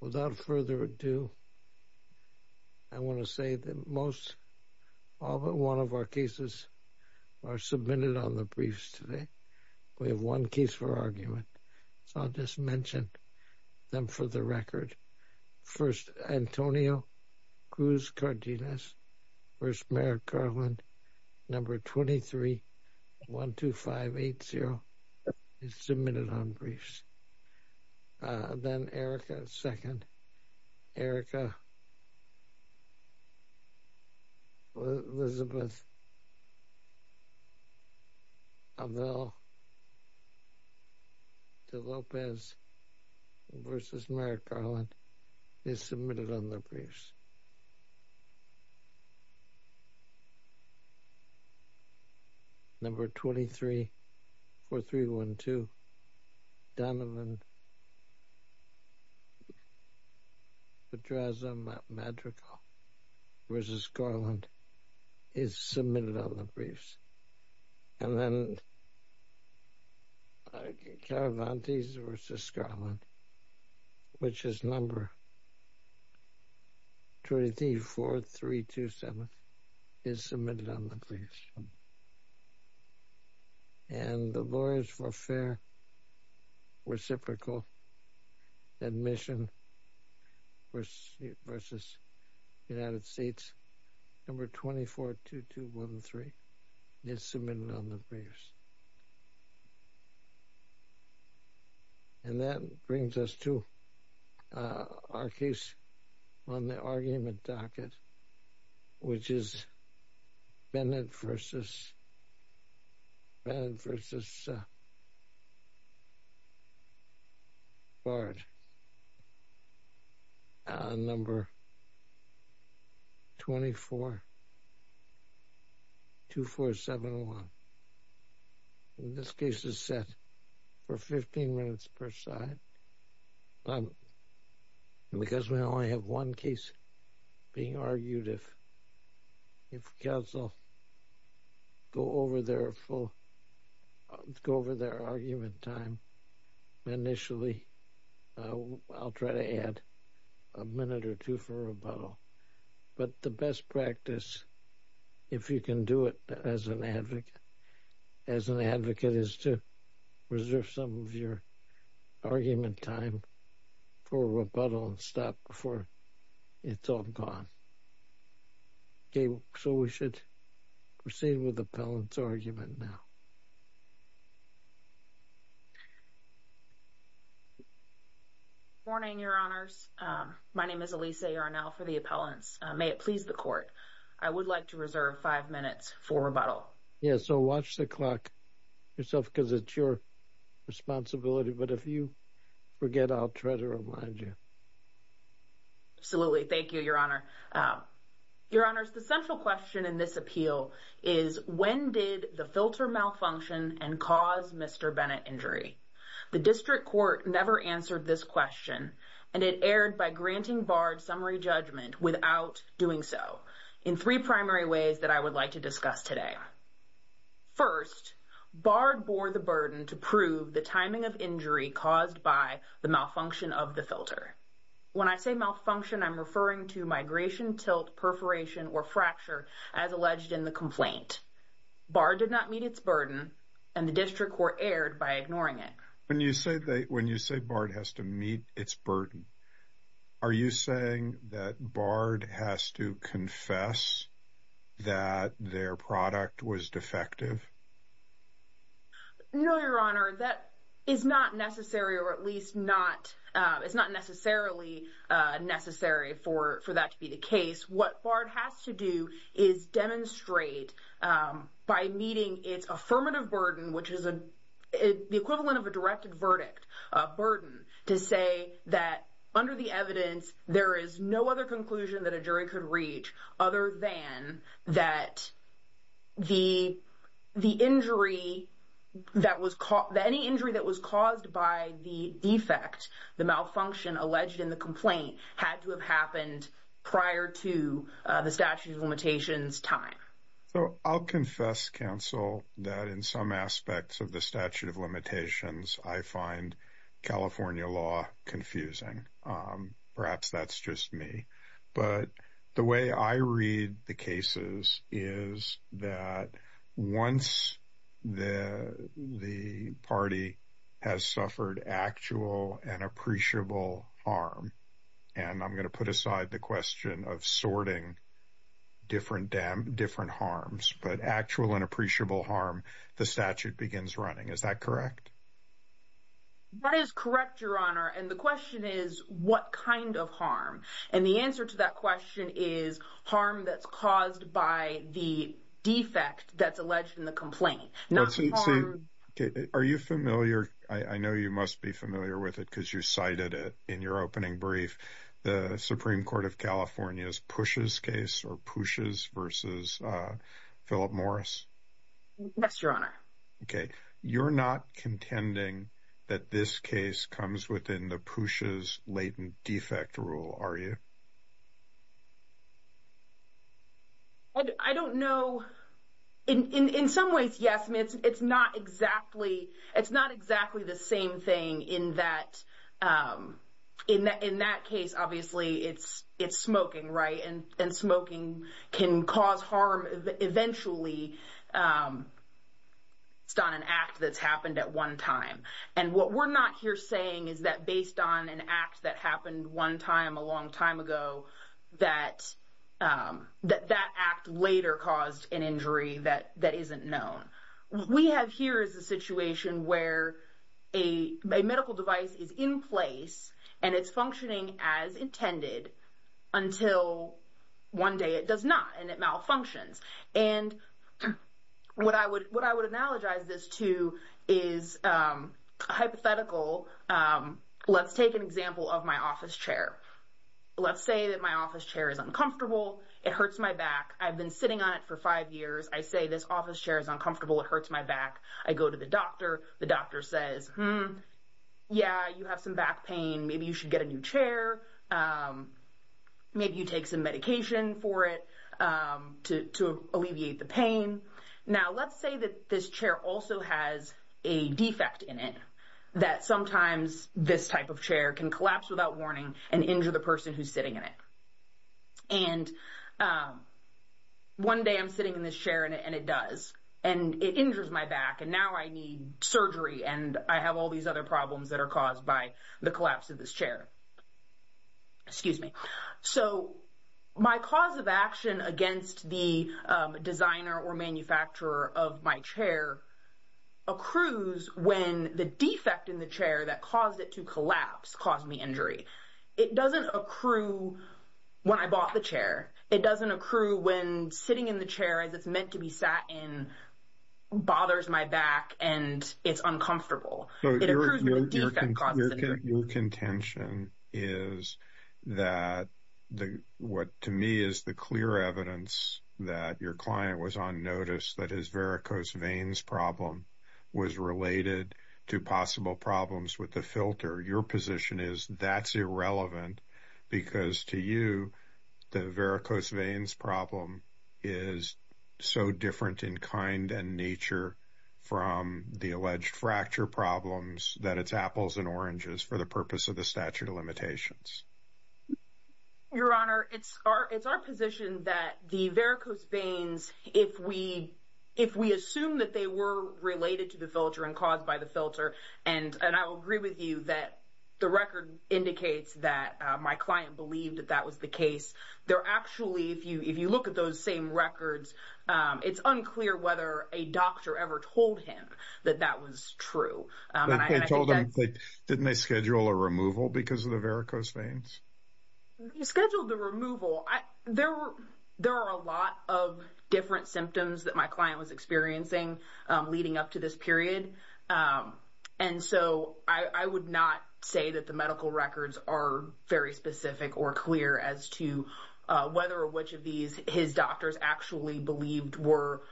Without further ado, I want to say that most, all but one of our cases are submitted on the briefs today. We have one case for argument, so I'll just mention them for the record. First, Antonio Cruz Cardenas v. Merrick Garland, No. 23-12580, is submitted on briefs. Then Erika's second, Erika Elizabeth Avell de Lopez v. Merrick Garland, is submitted on the briefs. No. 23-4312, Donovan Pedraza Madrigal v. Garland, is submitted on the briefs. And then Caravantes v. Garland, which is No. 23-4327, is submitted on the briefs. And the Lawyers for Fair Reciprocal Admission v. United States, No. 24-2213, is submitted on the briefs. And that brings us to our case on the argument 24-701. And this case is set for 15 minutes per side. And because we only have one case being argued, if counsel go over their full, go over their argument time initially, I'll try to add a minute or two for rebuttal. But the best practice, if you can do it as an advocate, as an advocate is to reserve some of your argument time for rebuttal and before it's all gone. Okay, so we should proceed with the appellant's argument now. Morning, Your Honors. My name is Alisa Arnell for the appellants. May it please the Court, I would like to reserve five minutes for rebuttal. Yeah, so watch the clock yourself because it's your responsibility. But if you forget, I'll try to remind you. Absolutely. Thank you, Your Honor. Your Honors, the central question in this appeal is, when did the filter malfunction and cause Mr. Bennett injury? The District Court never answered this question. And it erred by granting Bard summary judgment without doing so, in three primary ways that I would like to discuss today. First, Bard bore the burden to prove the timing of injury caused by malfunction of the filter. When I say malfunction, I'm referring to migration, tilt, perforation or fracture as alleged in the complaint. Bard did not meet its burden and the District Court erred by ignoring it. When you say Bard has to meet its burden, are you saying that Bard has to confess that their product was defective? No, Your Honor. That is not necessary, or at least it's not necessarily necessary for that to be the case. What Bard has to do is demonstrate by meeting its affirmative burden, which is the equivalent of a directed verdict burden, to say that under the evidence, there is no other injury. Any injury that was caused by the defect, the malfunction alleged in the complaint, had to have happened prior to the statute of limitations time. So I'll confess, counsel, that in some aspects of the statute of limitations, I find California law confusing. Perhaps that's just me. But the way I read the cases is that once the party has suffered actual and appreciable harm, and I'm going to put aside the question of sorting different harms, but actual and appreciable harm, the statute begins running. Is that correct? That is correct, Your Honor. And the question is, what kind of harm? And the answer to that question is harm that's caused by the defect that's alleged in the complaint, not the harm... Let's see. Are you familiar? I know you must be familiar with it because you cited it in your opening brief. The Supreme Court of California's Pushes case, or Pushes versus Philip Morris. Yes, Your Honor. Okay. You're not contending that this case comes within the Pushes latent defect rule, are you? I don't know. In some ways, yes. It's not exactly the same thing in that case, obviously. It's smoking, right? And smoking can cause harm eventually. It's not an act that's happened at one time. And what we're not here saying is that based on an act that happened one time a long time ago, that that act later caused an injury that isn't known. We have here is a situation where a medical device is in place and it's functioning as intended until one day it does not and it malfunctions. And what I would analogize this to is a hypothetical. Let's take an example of my office chair. Let's say that my office chair is uncomfortable. It hurts my back. I've been sitting on it for five years. I say, this office chair is uncomfortable. It hurts my back. I go to the doctor. The doctor says, yeah, you have some back pain. Maybe you should get a new chair. Maybe you take some medication for it to alleviate the pain. Now, let's say that this chair also has a defect in it that sometimes this type of chair can collapse without warning and injure the person who's sitting in it. And one day I'm sitting in this chair and it does and it injures my back and now I need surgery and I have all these other problems that are caused by the collapse of this chair. Excuse me. So my cause of action against the designer or manufacturer of my chair accrues when the defect in the chair that caused it to collapse caused me injury. It doesn't accrue when I bought the chair. It doesn't accrue when sitting in the chair as it's meant to be sat in bothers my back and it's uncomfortable. Your contention is that what to me is the clear evidence that your client was on notice that his varicose veins problem was related to possible problems with the filter. Your position is that's irrelevant because to you, the varicose veins problem is so different in kind and nature from the alleged fracture problems that it's apples and oranges for the purpose of the statute of limitations. Your Honor, it's our position that the varicose veins, if we assume that they were related to the filter and caused by the filter and I will agree with you that the record indicates that my client believed that that was the case. They're actually, if you look at those same records, it's unclear whether a doctor ever told him that that was true. They told him, didn't they schedule a removal because of the varicose veins? You scheduled the removal. There are a lot of different symptoms that my client was experiencing leading up to this period. And so I would not say that the medical records are very specific or clear as to whether or which of these his doctors actually believed were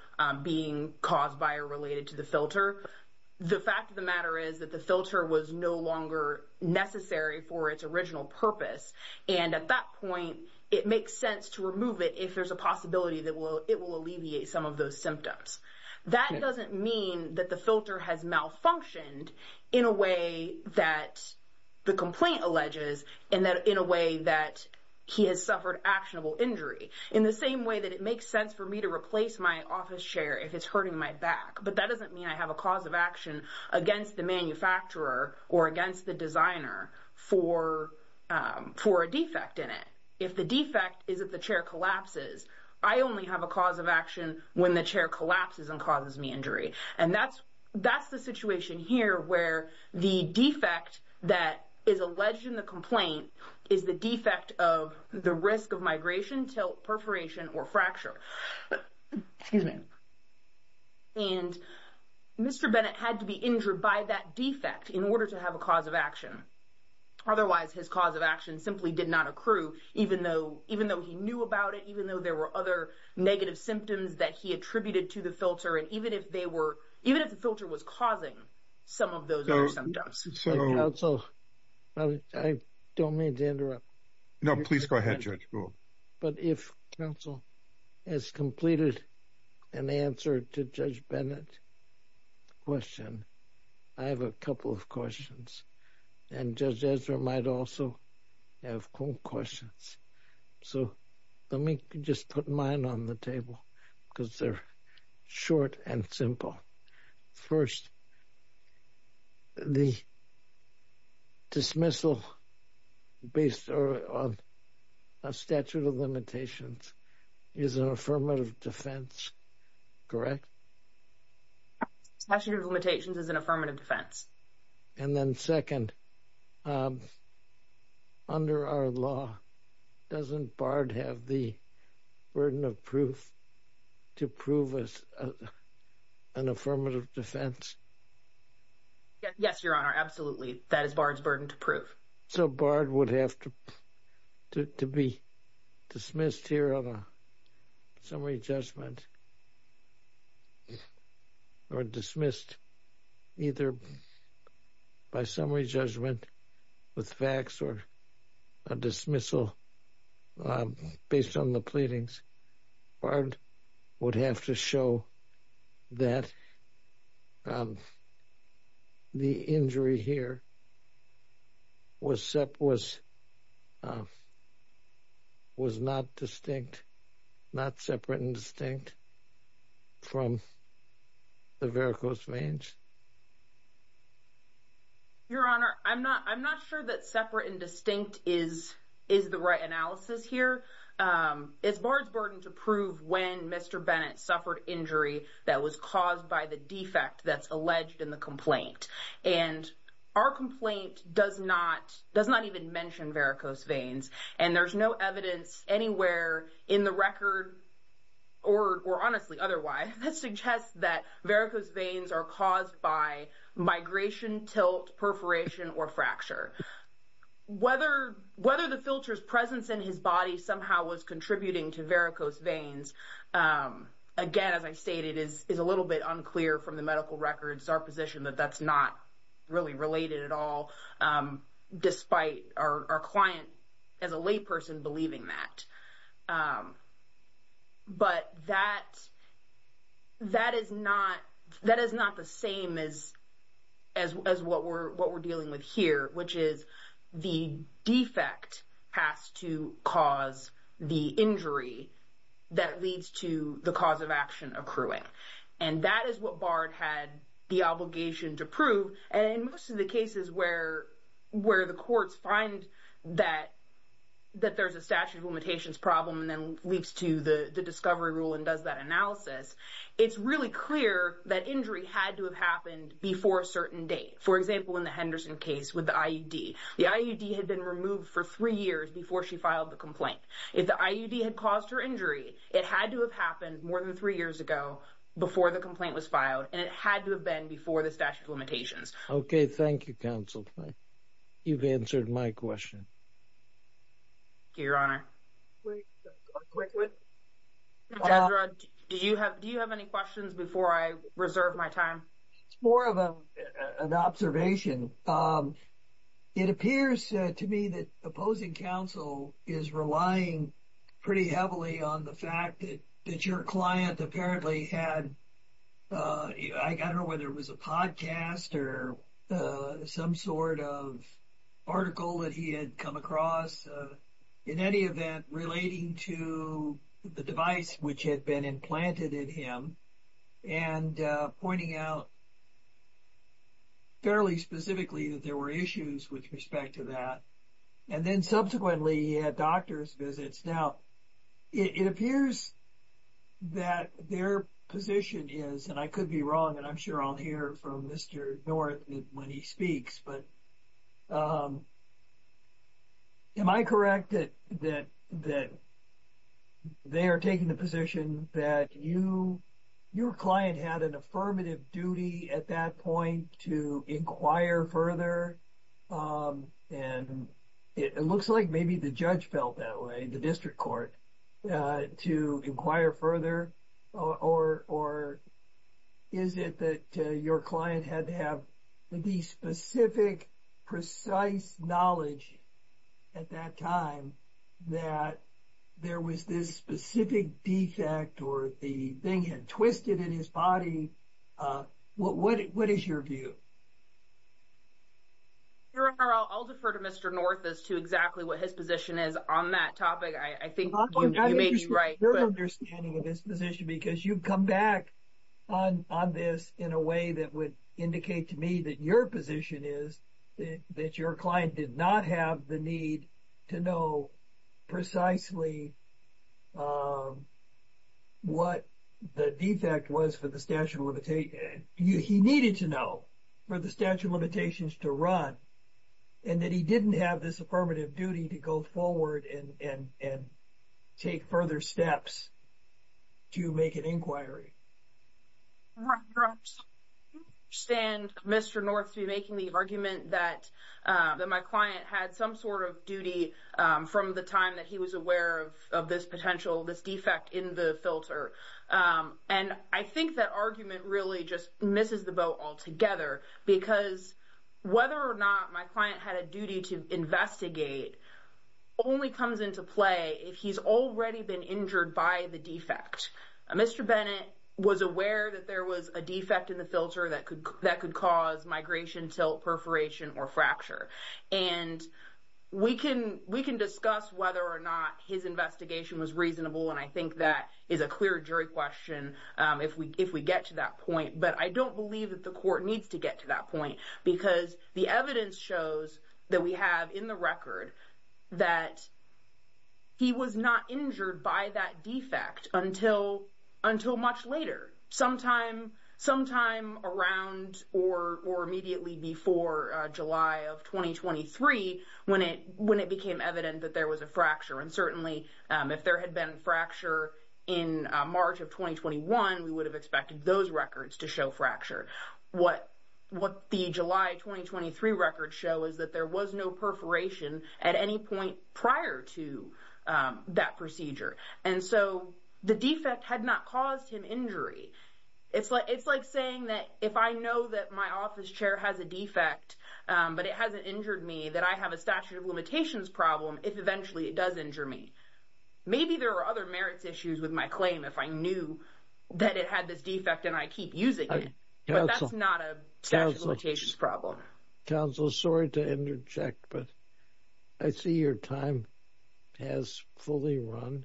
being caused by or related to the filter. The fact of the matter is that the filter was no longer necessary for its original purpose. And at that point, it makes sense to remove it if there's a possibility that it will alleviate some of those symptoms. That doesn't mean that the filter has malfunctioned in a way that the complaint alleges and that in a way that he has suffered actionable injury. In the same way that it makes sense for me to replace my office chair if it's hurting my back. But that doesn't mean I have a cause of action against the manufacturer or against the designer for a defect in it. If the defect is that the chair collapses, I only have a cause of action when the chair collapses and causes me injury. And that's the situation here where the defect that is alleged in the complaint is the defect of the risk of tilt, perforation, or fracture. And Mr. Bennett had to be injured by that defect in order to have a cause of action. Otherwise, his cause of action simply did not accrue, even though he knew about it, even though there were other negative symptoms that he attributed to the filter, and even if the filter was causing some of those other symptoms. Counsel, I don't mean to interrupt. No, please go ahead, Judge. But if counsel has completed an answer to Judge Bennett's question, I have a couple of questions. And Judge Ezra might also have questions. So let me just put mine on the table because they're short and simple. First, the dismissal based on a statute of limitations is an affirmative defense, correct? Statute of limitations is an affirmative defense. And then second, under our law, doesn't BARD have the burden of proof to prove it's an affirmative defense? Yes, Your Honor, absolutely. That is BARD's burden to prove. So BARD would have to be dismissed here on a summary judgment, or dismissed either by summary judgment with facts or a dismissal based on the pleadings. BARD would have to show that the injury here was not distinct, not separate and distinct from the varicose veins. Your Honor, I'm not sure that separate and distinct is the right analysis here. It's BARD's burden to prove when Mr. Bennett suffered injury that was caused by the defect that's alleged in the complaint. And our complaint does not even mention varicose veins, and there's no evidence anywhere in the record, or honestly, otherwise, that suggests that varicose veins are caused by migration, tilt, perforation, or fracture. Whether the filter's presence in his body somehow was contributing to varicose veins, again, as I stated, is a little bit unclear from the medical records, our position that that's not really related at all, despite our client, as a layperson, believing that. But that is not the same as what we're dealing with here, which is the defect has to cause the injury that leads to the cause of action accruing. And that is what BARD had the obligation to prove. And in most of the cases where the courts find that there's a statute of limitations problem and then leaps to the discovery rule and does that analysis, it's really clear that injury had to have happened before a certain date. For example, in the Henderson case with the IUD. The IUD had been removed for three years before she filed the complaint. If the IUD had caused her injury, it had to have happened more than three years ago before the complaint was filed, and it had to have been before the statute of limitations. Okay, thank you, counsel. You've answered my question. Thank you, your honor. Do you have any questions before I reserve my time? It's more of an observation. It appears to me that opposing counsel is relying pretty heavily on the fact that your client apparently had, I don't know whether it was a podcast or some sort of article that he had come across, in any event, relating to the device which had been implanted in him and pointing out fairly specifically that there were issues with respect to that. And then subsequently, he had doctor's visits. Now, it appears that their position is, and I could be wrong, and I'm sure I'll hear from Mr. North when he speaks, but am I correct that they are taking the position that your client had an affirmative duty at that point to inquire further? And it looks like maybe the judge felt that way, the district court, to inquire further. Or is it that your client had to have the specific, precise knowledge at that time that there was this specific defect or the thing had twisted in his body? What is your view? Your honor, I'll defer to Mr. North as to exactly what his position is on that topic. I think you may be right. Your honor, your understanding of his position, because you've come back on this in a way that would indicate to me that your position is that your client did not have the need to know precisely what the defect was for the statute of limitations. He needed to know for the statute of limitations to run and that he didn't have this affirmative duty to go forward and take further steps to make an inquiry. Your honor, I understand Mr. North to be making the argument that my client had some sort of duty from the time that he was aware of this potential, this defect in the filter. And I think that argument really just misses the boat altogether because whether or not my client had a duty to investigate only comes into play if he's already been injured by the defect. Mr. Bennett was aware that there was a defect in the filter that could cause migration, tilt, perforation or fracture. And we can discuss whether or not his investigation was reasonable. And I think that is a clear jury question if we get to that point. But I don't believe that the court needs to get to that point because the evidence shows that we have in the record that he was not injured by that defect until much later. Sometime around or immediately before July of 2023 when it became evident that there was a fracture. And certainly if there had been a fracture in March of 2021, we would have expected those records to show fracture. What the July 2023 records show is that there was no perforation at any point prior to that procedure. And so the defect had not caused him injury. It's like saying that if I know that my office chair has a defect but it hasn't injured me, that I have a statute of limitations problem if eventually it does injure me. Maybe there are other merits issues with my claim if I knew that it had this defect and I keep using it. But that's not a statute of limitations problem. Counsel, sorry to interject, but I see your time has fully run.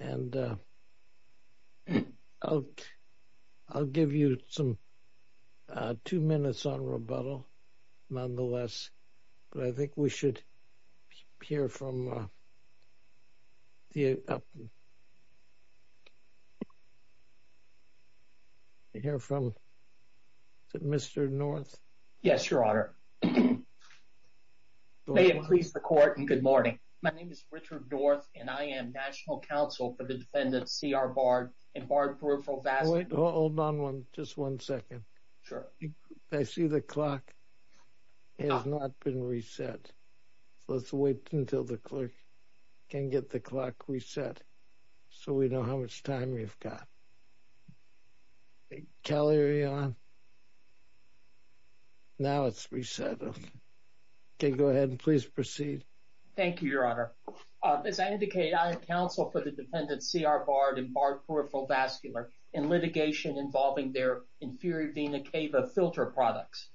And I'll give you some two minutes on rebuttal nonetheless. But I think we should hear from Mr. North. Yes, Your Honor. May it please the court and good morning. My name is Richard North and I am National Counsel for the defendant C.R. Bard and Bard Peripheral Vascular. Hold on just one second. Sure. I see the clock has not been reset. Let's wait until the clerk can get the clock reset so we know how much time we've got. Kelly, are you on? Now it's reset. Okay, go ahead and please proceed. Thank you, Your Honor. As I indicate, I am counsel for the defendant C.R. Bard and Bard Peripheral Vascular in litigation involving their inferior vena cava filter products.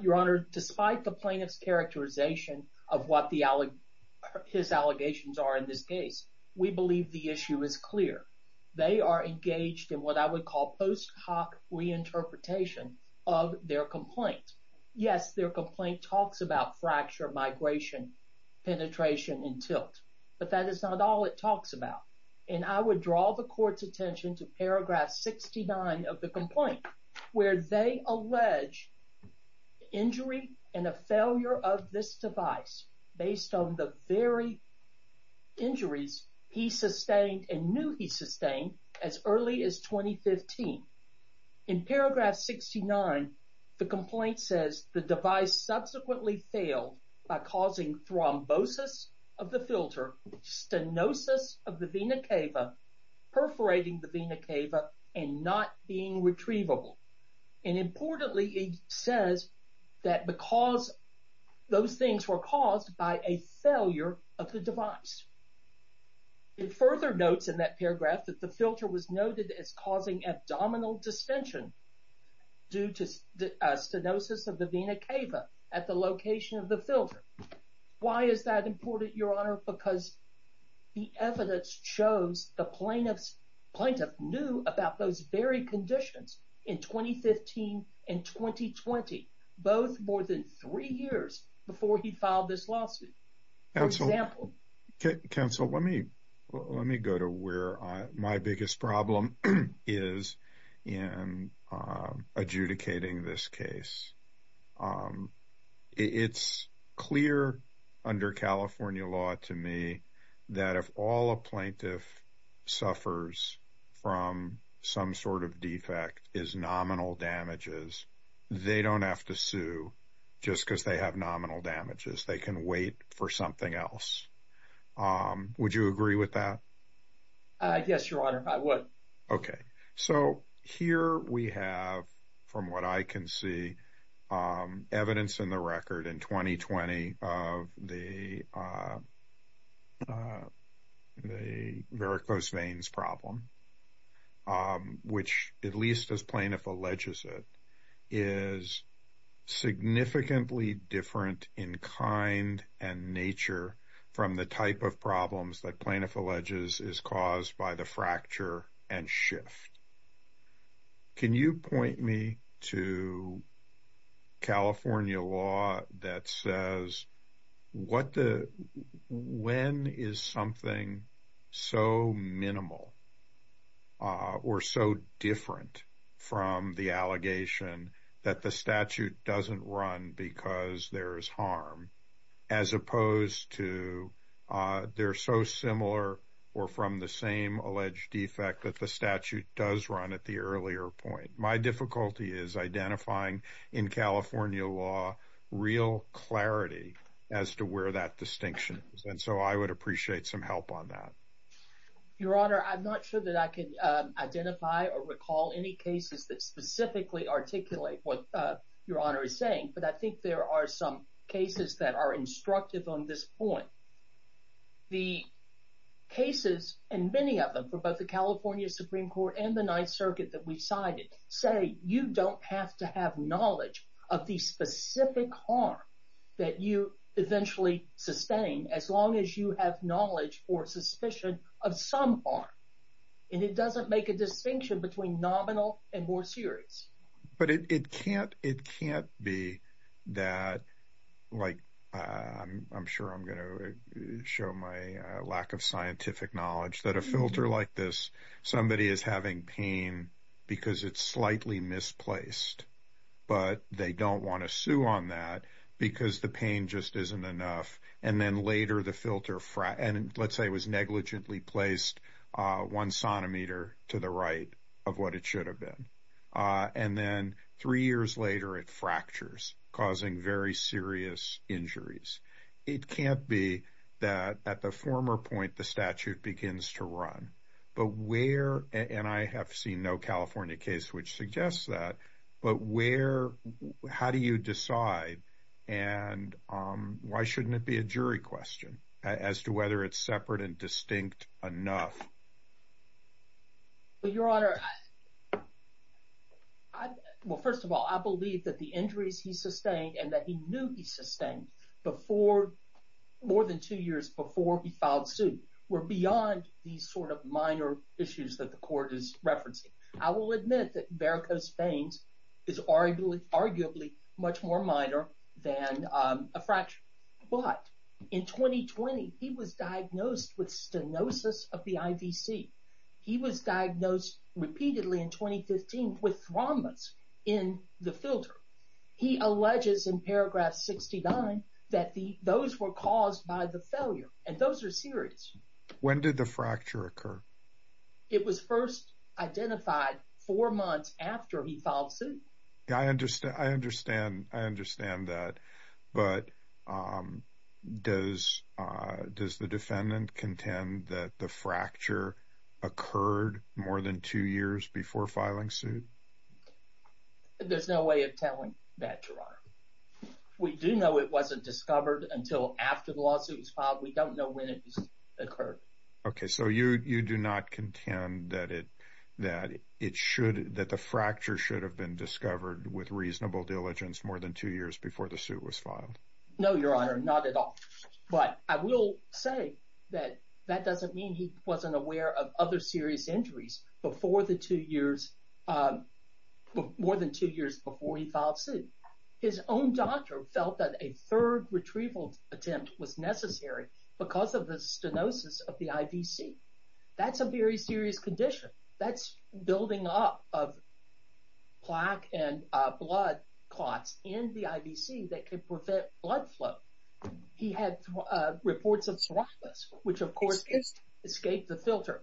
Your Honor, despite the plaintiff's characterization of what the his allegations are in this case, we believe the issue is clear. They are engaged in what I would call post hoc reinterpretation of their complaint. Yes, their complaint talks about fracture, migration, penetration, and tilt, but that is not all it talks about. And I would draw the court's attention to paragraph 69 of the complaint where they allege injury and a failure of this device based on the very injuries he sustained and knew he sustained as early as 2015. In paragraph 69, the complaint says the device subsequently failed by causing thrombosis of the filter, stenosis of the vena cava, perforating the vena cava, and not being retrievable. And importantly, it says that because those things were caused by a failure of the device. It further notes in that paragraph that the filter was noted as causing abdominal distension due to stenosis of the vena cava at the location of the filter. Why is that important, Your Honor? Because the evidence shows the plaintiff knew about those very conditions in 2015 and 2020, both more than three years before he filed this lawsuit. For example- Counsel, let me go to where my biggest problem is in adjudicating this case. It's clear under California law to me that if all a plaintiff suffers from some sort of defect is nominal damages, they don't have to sue just because they have nominal damages. They can wait for something else. Would you agree with that? Yes, Your Honor, I would. Okay. So here we have, from what I can see, evidence in the record in 2020 of the varicose veins problem, which at least as plaintiff alleges it, is significantly different in kind and nature from the type of problems that plaintiff alleges is caused by the fracture and shift. Can you point me to California law that says when is something so minimal or so different from the allegation that the statute doesn't run because there's harm, as opposed to they're so similar or from the same alleged defect that the statute does run at the earlier point? My difficulty is identifying in California law real clarity as to where that is. I'm not sure that I can identify or recall any cases that specifically articulate what Your Honor is saying, but I think there are some cases that are instructive on this point. The cases, and many of them for both the California Supreme Court and the Ninth Circuit that we cited, say you don't have to have knowledge of the specific harm that you eventually sustain as long as you have knowledge or suspicion of some harm, and it doesn't make a distinction between nominal and more serious. But it can't be that, I'm sure I'm going to show my lack of scientific knowledge, that a filter like this, somebody is having pain because it's slightly misplaced, but they don't want to sue on that because the pain just isn't enough, and then later the filter, let's say it was negligently placed one centimeter to the right of what it should have been, and then three years later it fractures, causing very serious injuries. It can't be that at the former point the statute begins to run, but where, and I have seen no California case which suggests that, but where, how do you decide and why shouldn't it be a jury question as to whether it's separate and distinct enough? Your Honor, well first of all I believe that the injuries he sustained and that he knew he sustained before, more than two years before he filed suit, were beyond these sort of minor issues that the court is referencing. I will admit that varicose veins is arguably much more minor than a fracture, but in 2020 he was diagnosed with stenosis of the IVC. He was diagnosed repeatedly in 2015 with traumas in the filter. He alleges in paragraph 69 that those were caused by the failure, and those are serious. When did the fracture occur? It was first identified four months after he filed suit. Yeah, I understand, I understand, I understand that, but does the defendant contend that the fracture occurred more than two years before filing suit? There's no way of telling that, Your Honor. We do know it wasn't discovered until after the lawsuit was filed. We don't know when it occurred. Okay, so you do not contend that it should, that the fracture should have been discovered with reasonable diligence more than two years before the suit was filed? No, Your Honor, not at all, but I will say that that doesn't mean he wasn't aware of other serious injuries before the two years, more than two years before he filed suit. His own doctor felt that a third stenosis of the IVC, that's a very serious condition. That's building up of plaque and blood clots in the IVC that could prevent blood flow. He had reports of serotasis, which of course escaped the filter.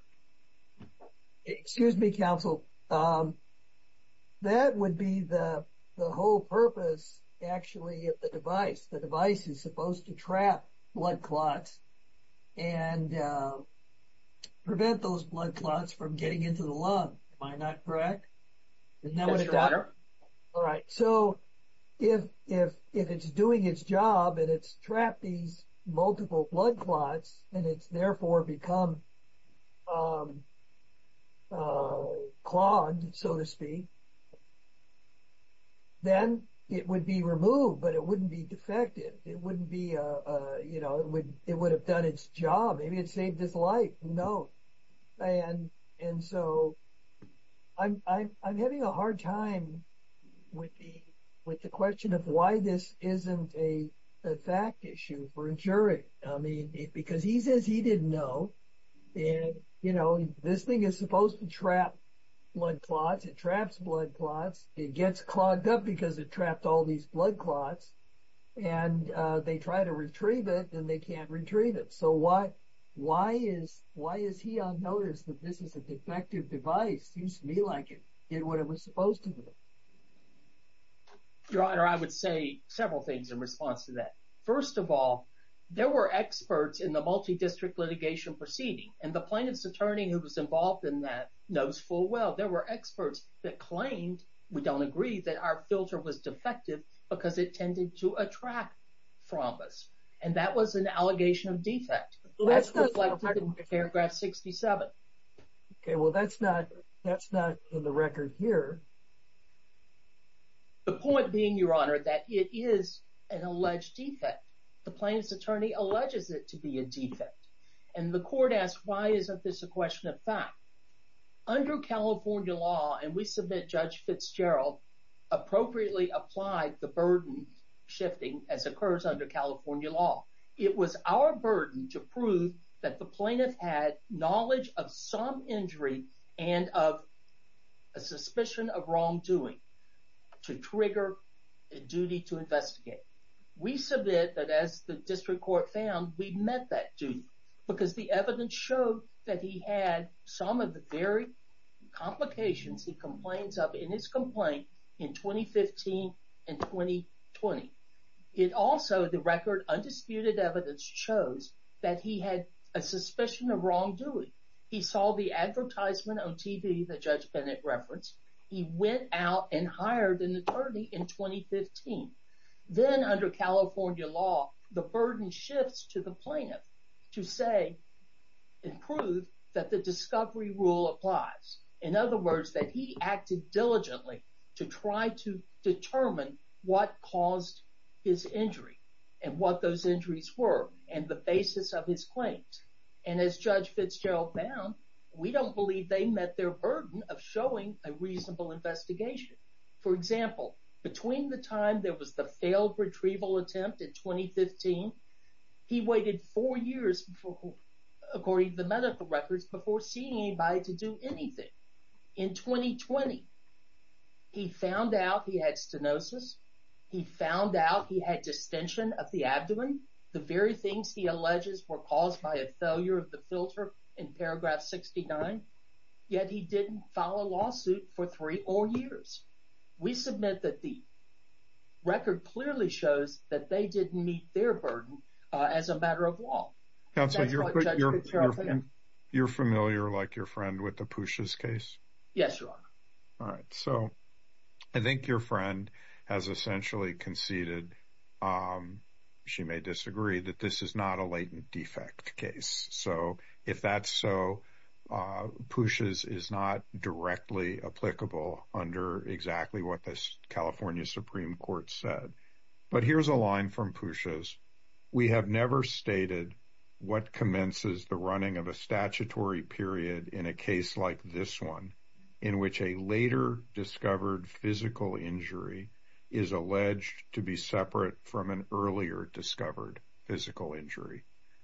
Excuse me, counsel, that would be the whole purpose, actually, of the device. The device is supposed to trap blood clots and prevent those blood clots from getting into the lung. Am I not correct? Yes, Your Honor. All right, so if it's doing its job and it's trapped these multiple blood clots and it's become clogged, so to speak, then it would be removed, but it wouldn't be defective. It would have done its job. Maybe it saved his life. No. I'm having a hard time with the question of why this isn't a fact issue for a jury. Because he says he didn't know. This thing is supposed to trap blood clots. It traps blood clots. It gets clogged up because it trapped all these blood clots. They try to retrieve it and they can't retrieve it. Why is he unnoticed that this is a defective device? Seems to me like it did what it was supposed to do. Your Honor, I would say several things in response to that. First of all, there were experts in the multi-district litigation proceeding, and the plaintiff's attorney who was involved in that knows full well there were experts that claimed, we don't agree, that our filter was defective because it tended to attract thrombus, and that was an allegation of defect. That's reflected in paragraph 67. Okay, well that's not in the record here. The point being, Your Honor, that it is an alleged defect. The plaintiff's attorney alleges it to be a defect, and the court asked why isn't this a question of fact. Under California law, and we submit Judge Fitzgerald appropriately applied the burden shifting as occurs under California law. It was our burden to prove that the plaintiff had knowledge of some injury and of a suspicion of wrongdoing to trigger a duty to investigate. We submit that as the district court found, we met that duty because the evidence showed that he had some of the very complications he complains of in his complaint in 2015 and 2020. It also, the record, undisputed evidence shows that he had a suspicion of wrongdoing. He saw the advertisement on TV that Judge Bennett referenced. He went out and hired an attorney in 2015. Then under California law, the burden shifts to the plaintiff to say and prove that the discovery rule applies. In other words, that he acted diligently to try to determine what caused his injury and what those injuries were and the basis of his claims. As Judge Fitzgerald found, we don't believe they met their burden of showing a reasonable investigation. For example, between the time there was the failed retrieval attempt in 2015, he waited four years before, according to the medical records, before seeing anybody to do anything. In 2020, he found out he had stenosis. He found out he had distension of the abdomen. The very things he alleges were caused by a failure of the filter in paragraph 69, yet he didn't file a lawsuit for three whole years. We submit that the record clearly shows that they didn't meet their burden as a matter of law. You're familiar, like your friend, with the Pusha's case? Yes, Your Honor. All right. I think your friend has essentially conceded, she may disagree, that this is not a latent defect case. If that's so, Pusha's is not directly applicable under exactly what the California Supreme Court said. Here's a line from Pusha's. We have never stated what commences the running of a statutory period in a case like this one, in which a later discovered physical injury is alleged to be separate from an earlier discovered physical injury.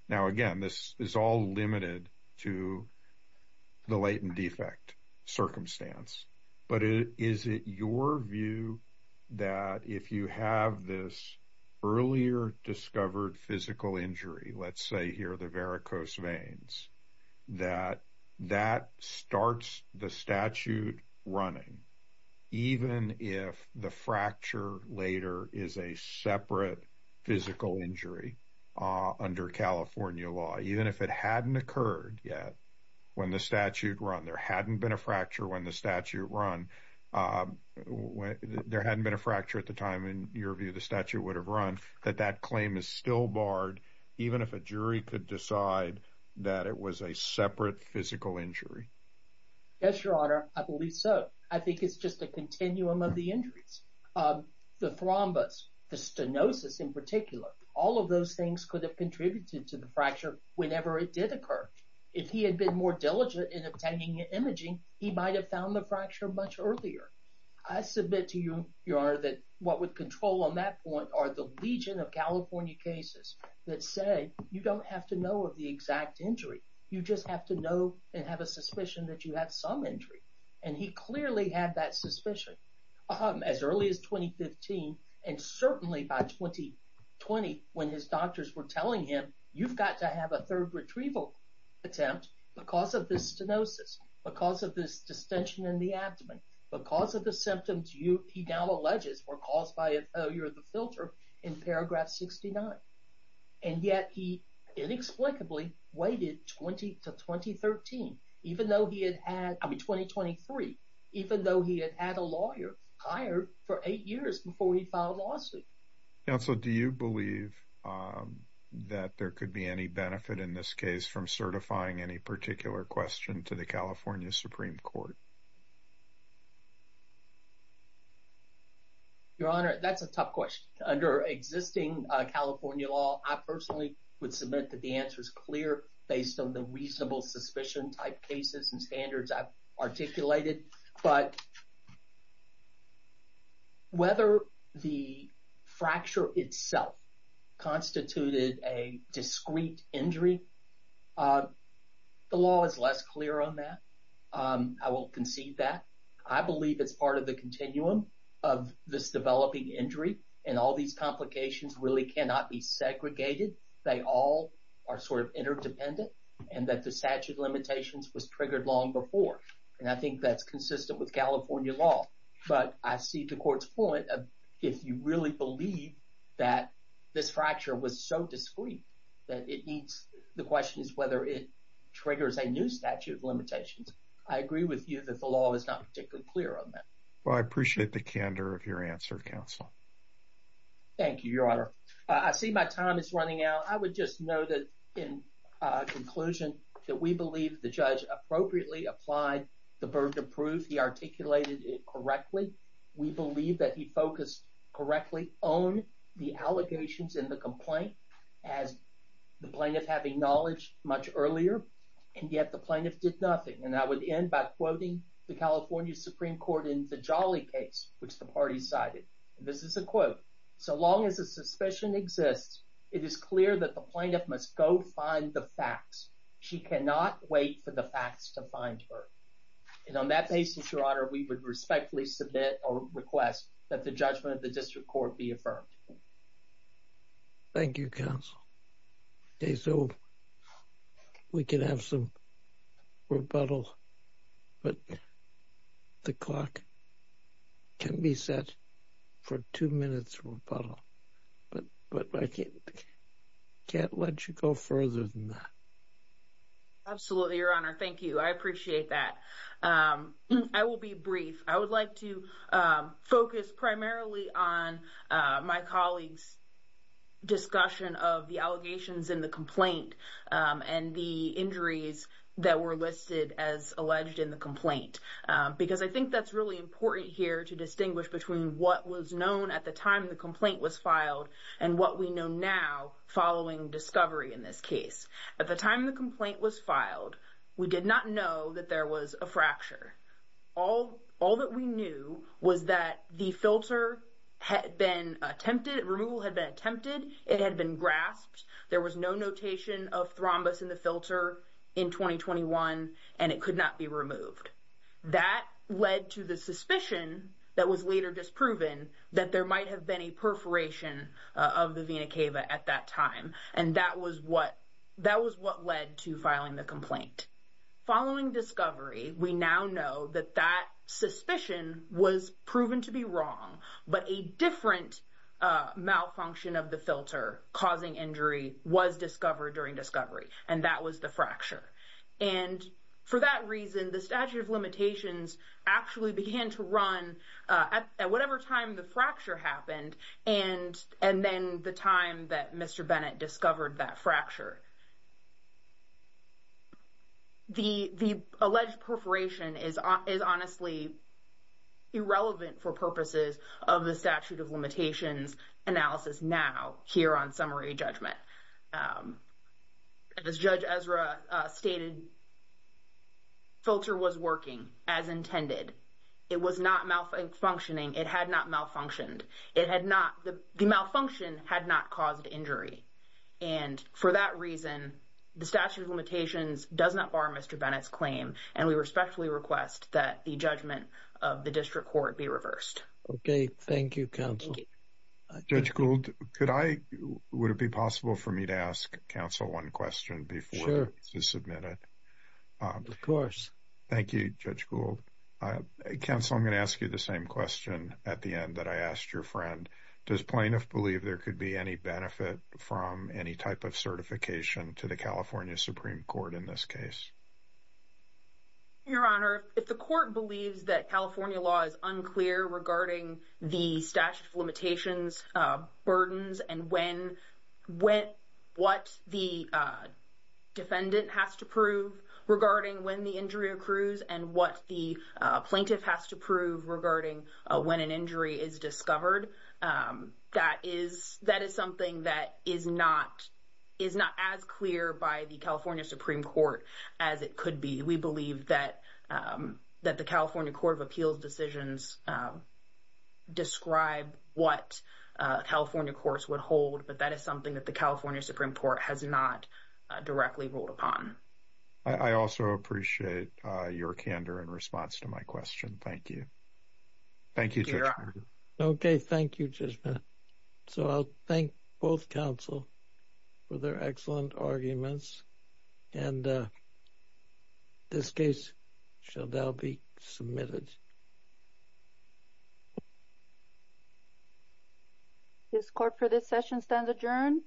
Now, again, this is all limited to the latent defect circumstance. But is it your view that if you have this earlier discovered physical injury, let's say here the varicose veins, that that starts the statute running, even if the fracture later is a separate physical injury under California law, even if it hadn't occurred yet when the statute run, there hadn't been a fracture when the statute run, there hadn't been a fracture at the time in your view the statute would have run, that that claim is still barred even if a jury could decide that it was a separate physical injury? Yes, Your Honor. I believe so. I think it's just a continuum of the injuries. The thrombus, the stenosis in particular, all of those things could have contributed to the fracture whenever it did occur. If he had been more diligent in obtaining imaging, he might have found the fracture much earlier. I submit to you, Your Honor, that what would control on that point are the legion of California cases that say you don't have to know of the exact injury. You just have to know and have a suspicion that you have some injury. And he clearly had that suspicion as early as 2015 and certainly by 2020 when his doctors were telling him, you've got to have a third retrieval attempt because of this stenosis, because of this distension in the abdomen, because of the symptoms he now alleges were caused by a failure of the 2013. Even though he had had, I mean 2023, even though he had had a lawyer hired for eight years before he filed a lawsuit. Counsel, do you believe that there could be any benefit in this case from certifying any particular question to the California Supreme Court? Your Honor, that's a tough question. Under existing California law, I personally would admit that the answer is clear based on the reasonable suspicion type cases and standards I've articulated. But whether the fracture itself constituted a discrete injury, the law is less clear on that. I will concede that. I believe it's part of the continuum of this developing injury and all these complications really cannot be segregated. They all are sort of interdependent and that the statute of limitations was triggered long before. And I think that's consistent with California law. But I see the court's point of if you really believe that this fracture was so discrete that it needs, the question is whether it triggers a new statute of limitations. I agree with you that the law is not particularly clear on that. Well, I appreciate the candor of your answer, Counsel. Thank you, Your Honor. I see my time is running out. I would just know that in conclusion that we believe the judge appropriately applied the burden of proof. He articulated it correctly. We believe that he focused correctly on the allegations in the complaint as the plaintiff having knowledge much earlier. And yet the plaintiff did nothing. And I would end by the California Supreme Court in the Jolly case, which the party cited. This is a quote. So long as a suspicion exists, it is clear that the plaintiff must go find the facts. She cannot wait for the facts to find her. And on that basis, Your Honor, we would respectfully submit or request that the judgment of the district court be affirmed. Thank you, Counsel. Okay, so we can have some rebuttal, but the clock can be set for two minutes rebuttal. But I can't let you go further than that. Absolutely, Your Honor. Thank you. I appreciate that. I will be brief. I would like to focus primarily on my colleagues' discussion of the allegations in the complaint and the injuries that were listed as alleged in the complaint. Because I think that's really important here to distinguish between what was known at the time the complaint was filed and what we know now following discovery in this case. At the time the complaint was filed, we did not know that there was a fracture. All that we knew was that the filter removal had been attempted, it had been grasped, there was no notation of thrombus in the filter in 2021, and it could not be removed. That led to the suspicion that was later disproven that there might have been a perforation of the vena cava at that time. And that was what led to filing the complaint. Following discovery, we now know that that suspicion was proven to be wrong, but a different malfunction of the filter causing injury was discovered during discovery, and that was the fracture. And for that reason, the statute of limitations actually began to run at whatever time the fracture happened and then the time that Mr. Bennett discovered that fracture. The alleged perforation is honestly irrelevant for purposes of the statute of limitations analysis now here on summary judgment. As Judge Ezra stated, filter was working as intended. It was not malfunctioning. It had not malfunctioned. The malfunction had not caused injury. And for that reason, the statute of limitations does not bar Mr. Bennett's claim, and we respectfully request that the judgment of the district court be reversed. Okay, thank you, counsel. Judge Gould, would it be possible for me to ask counsel one question before I submit it? Sure. Of course. Thank you, Judge Gould. Counsel, I'm going to ask you the same question at the end that I asked your friend. Does plaintiff believe there could be any benefit from any type of certification to the California Supreme Court in this case? Your Honor, if the court believes that California law is unclear regarding the statute of limitations burdens and what the defendant has to prove regarding when the injury accrues and what the plaintiff has to prove regarding when an injury is discovered, that is something that is not as clear by the California Supreme Court as it could be. We believe that the California Court of Appeals decisions describe what California courts would hold, but that is something that the California Supreme Court has not directly ruled upon. I also appreciate your candor in response to my question. Thank you. Thank you, Your Honor. Okay, thank you, judgment. So, I'll thank both counsel for their excellent arguments, and this case shall now be submitted. This court for this session stands adjourned. Thank you.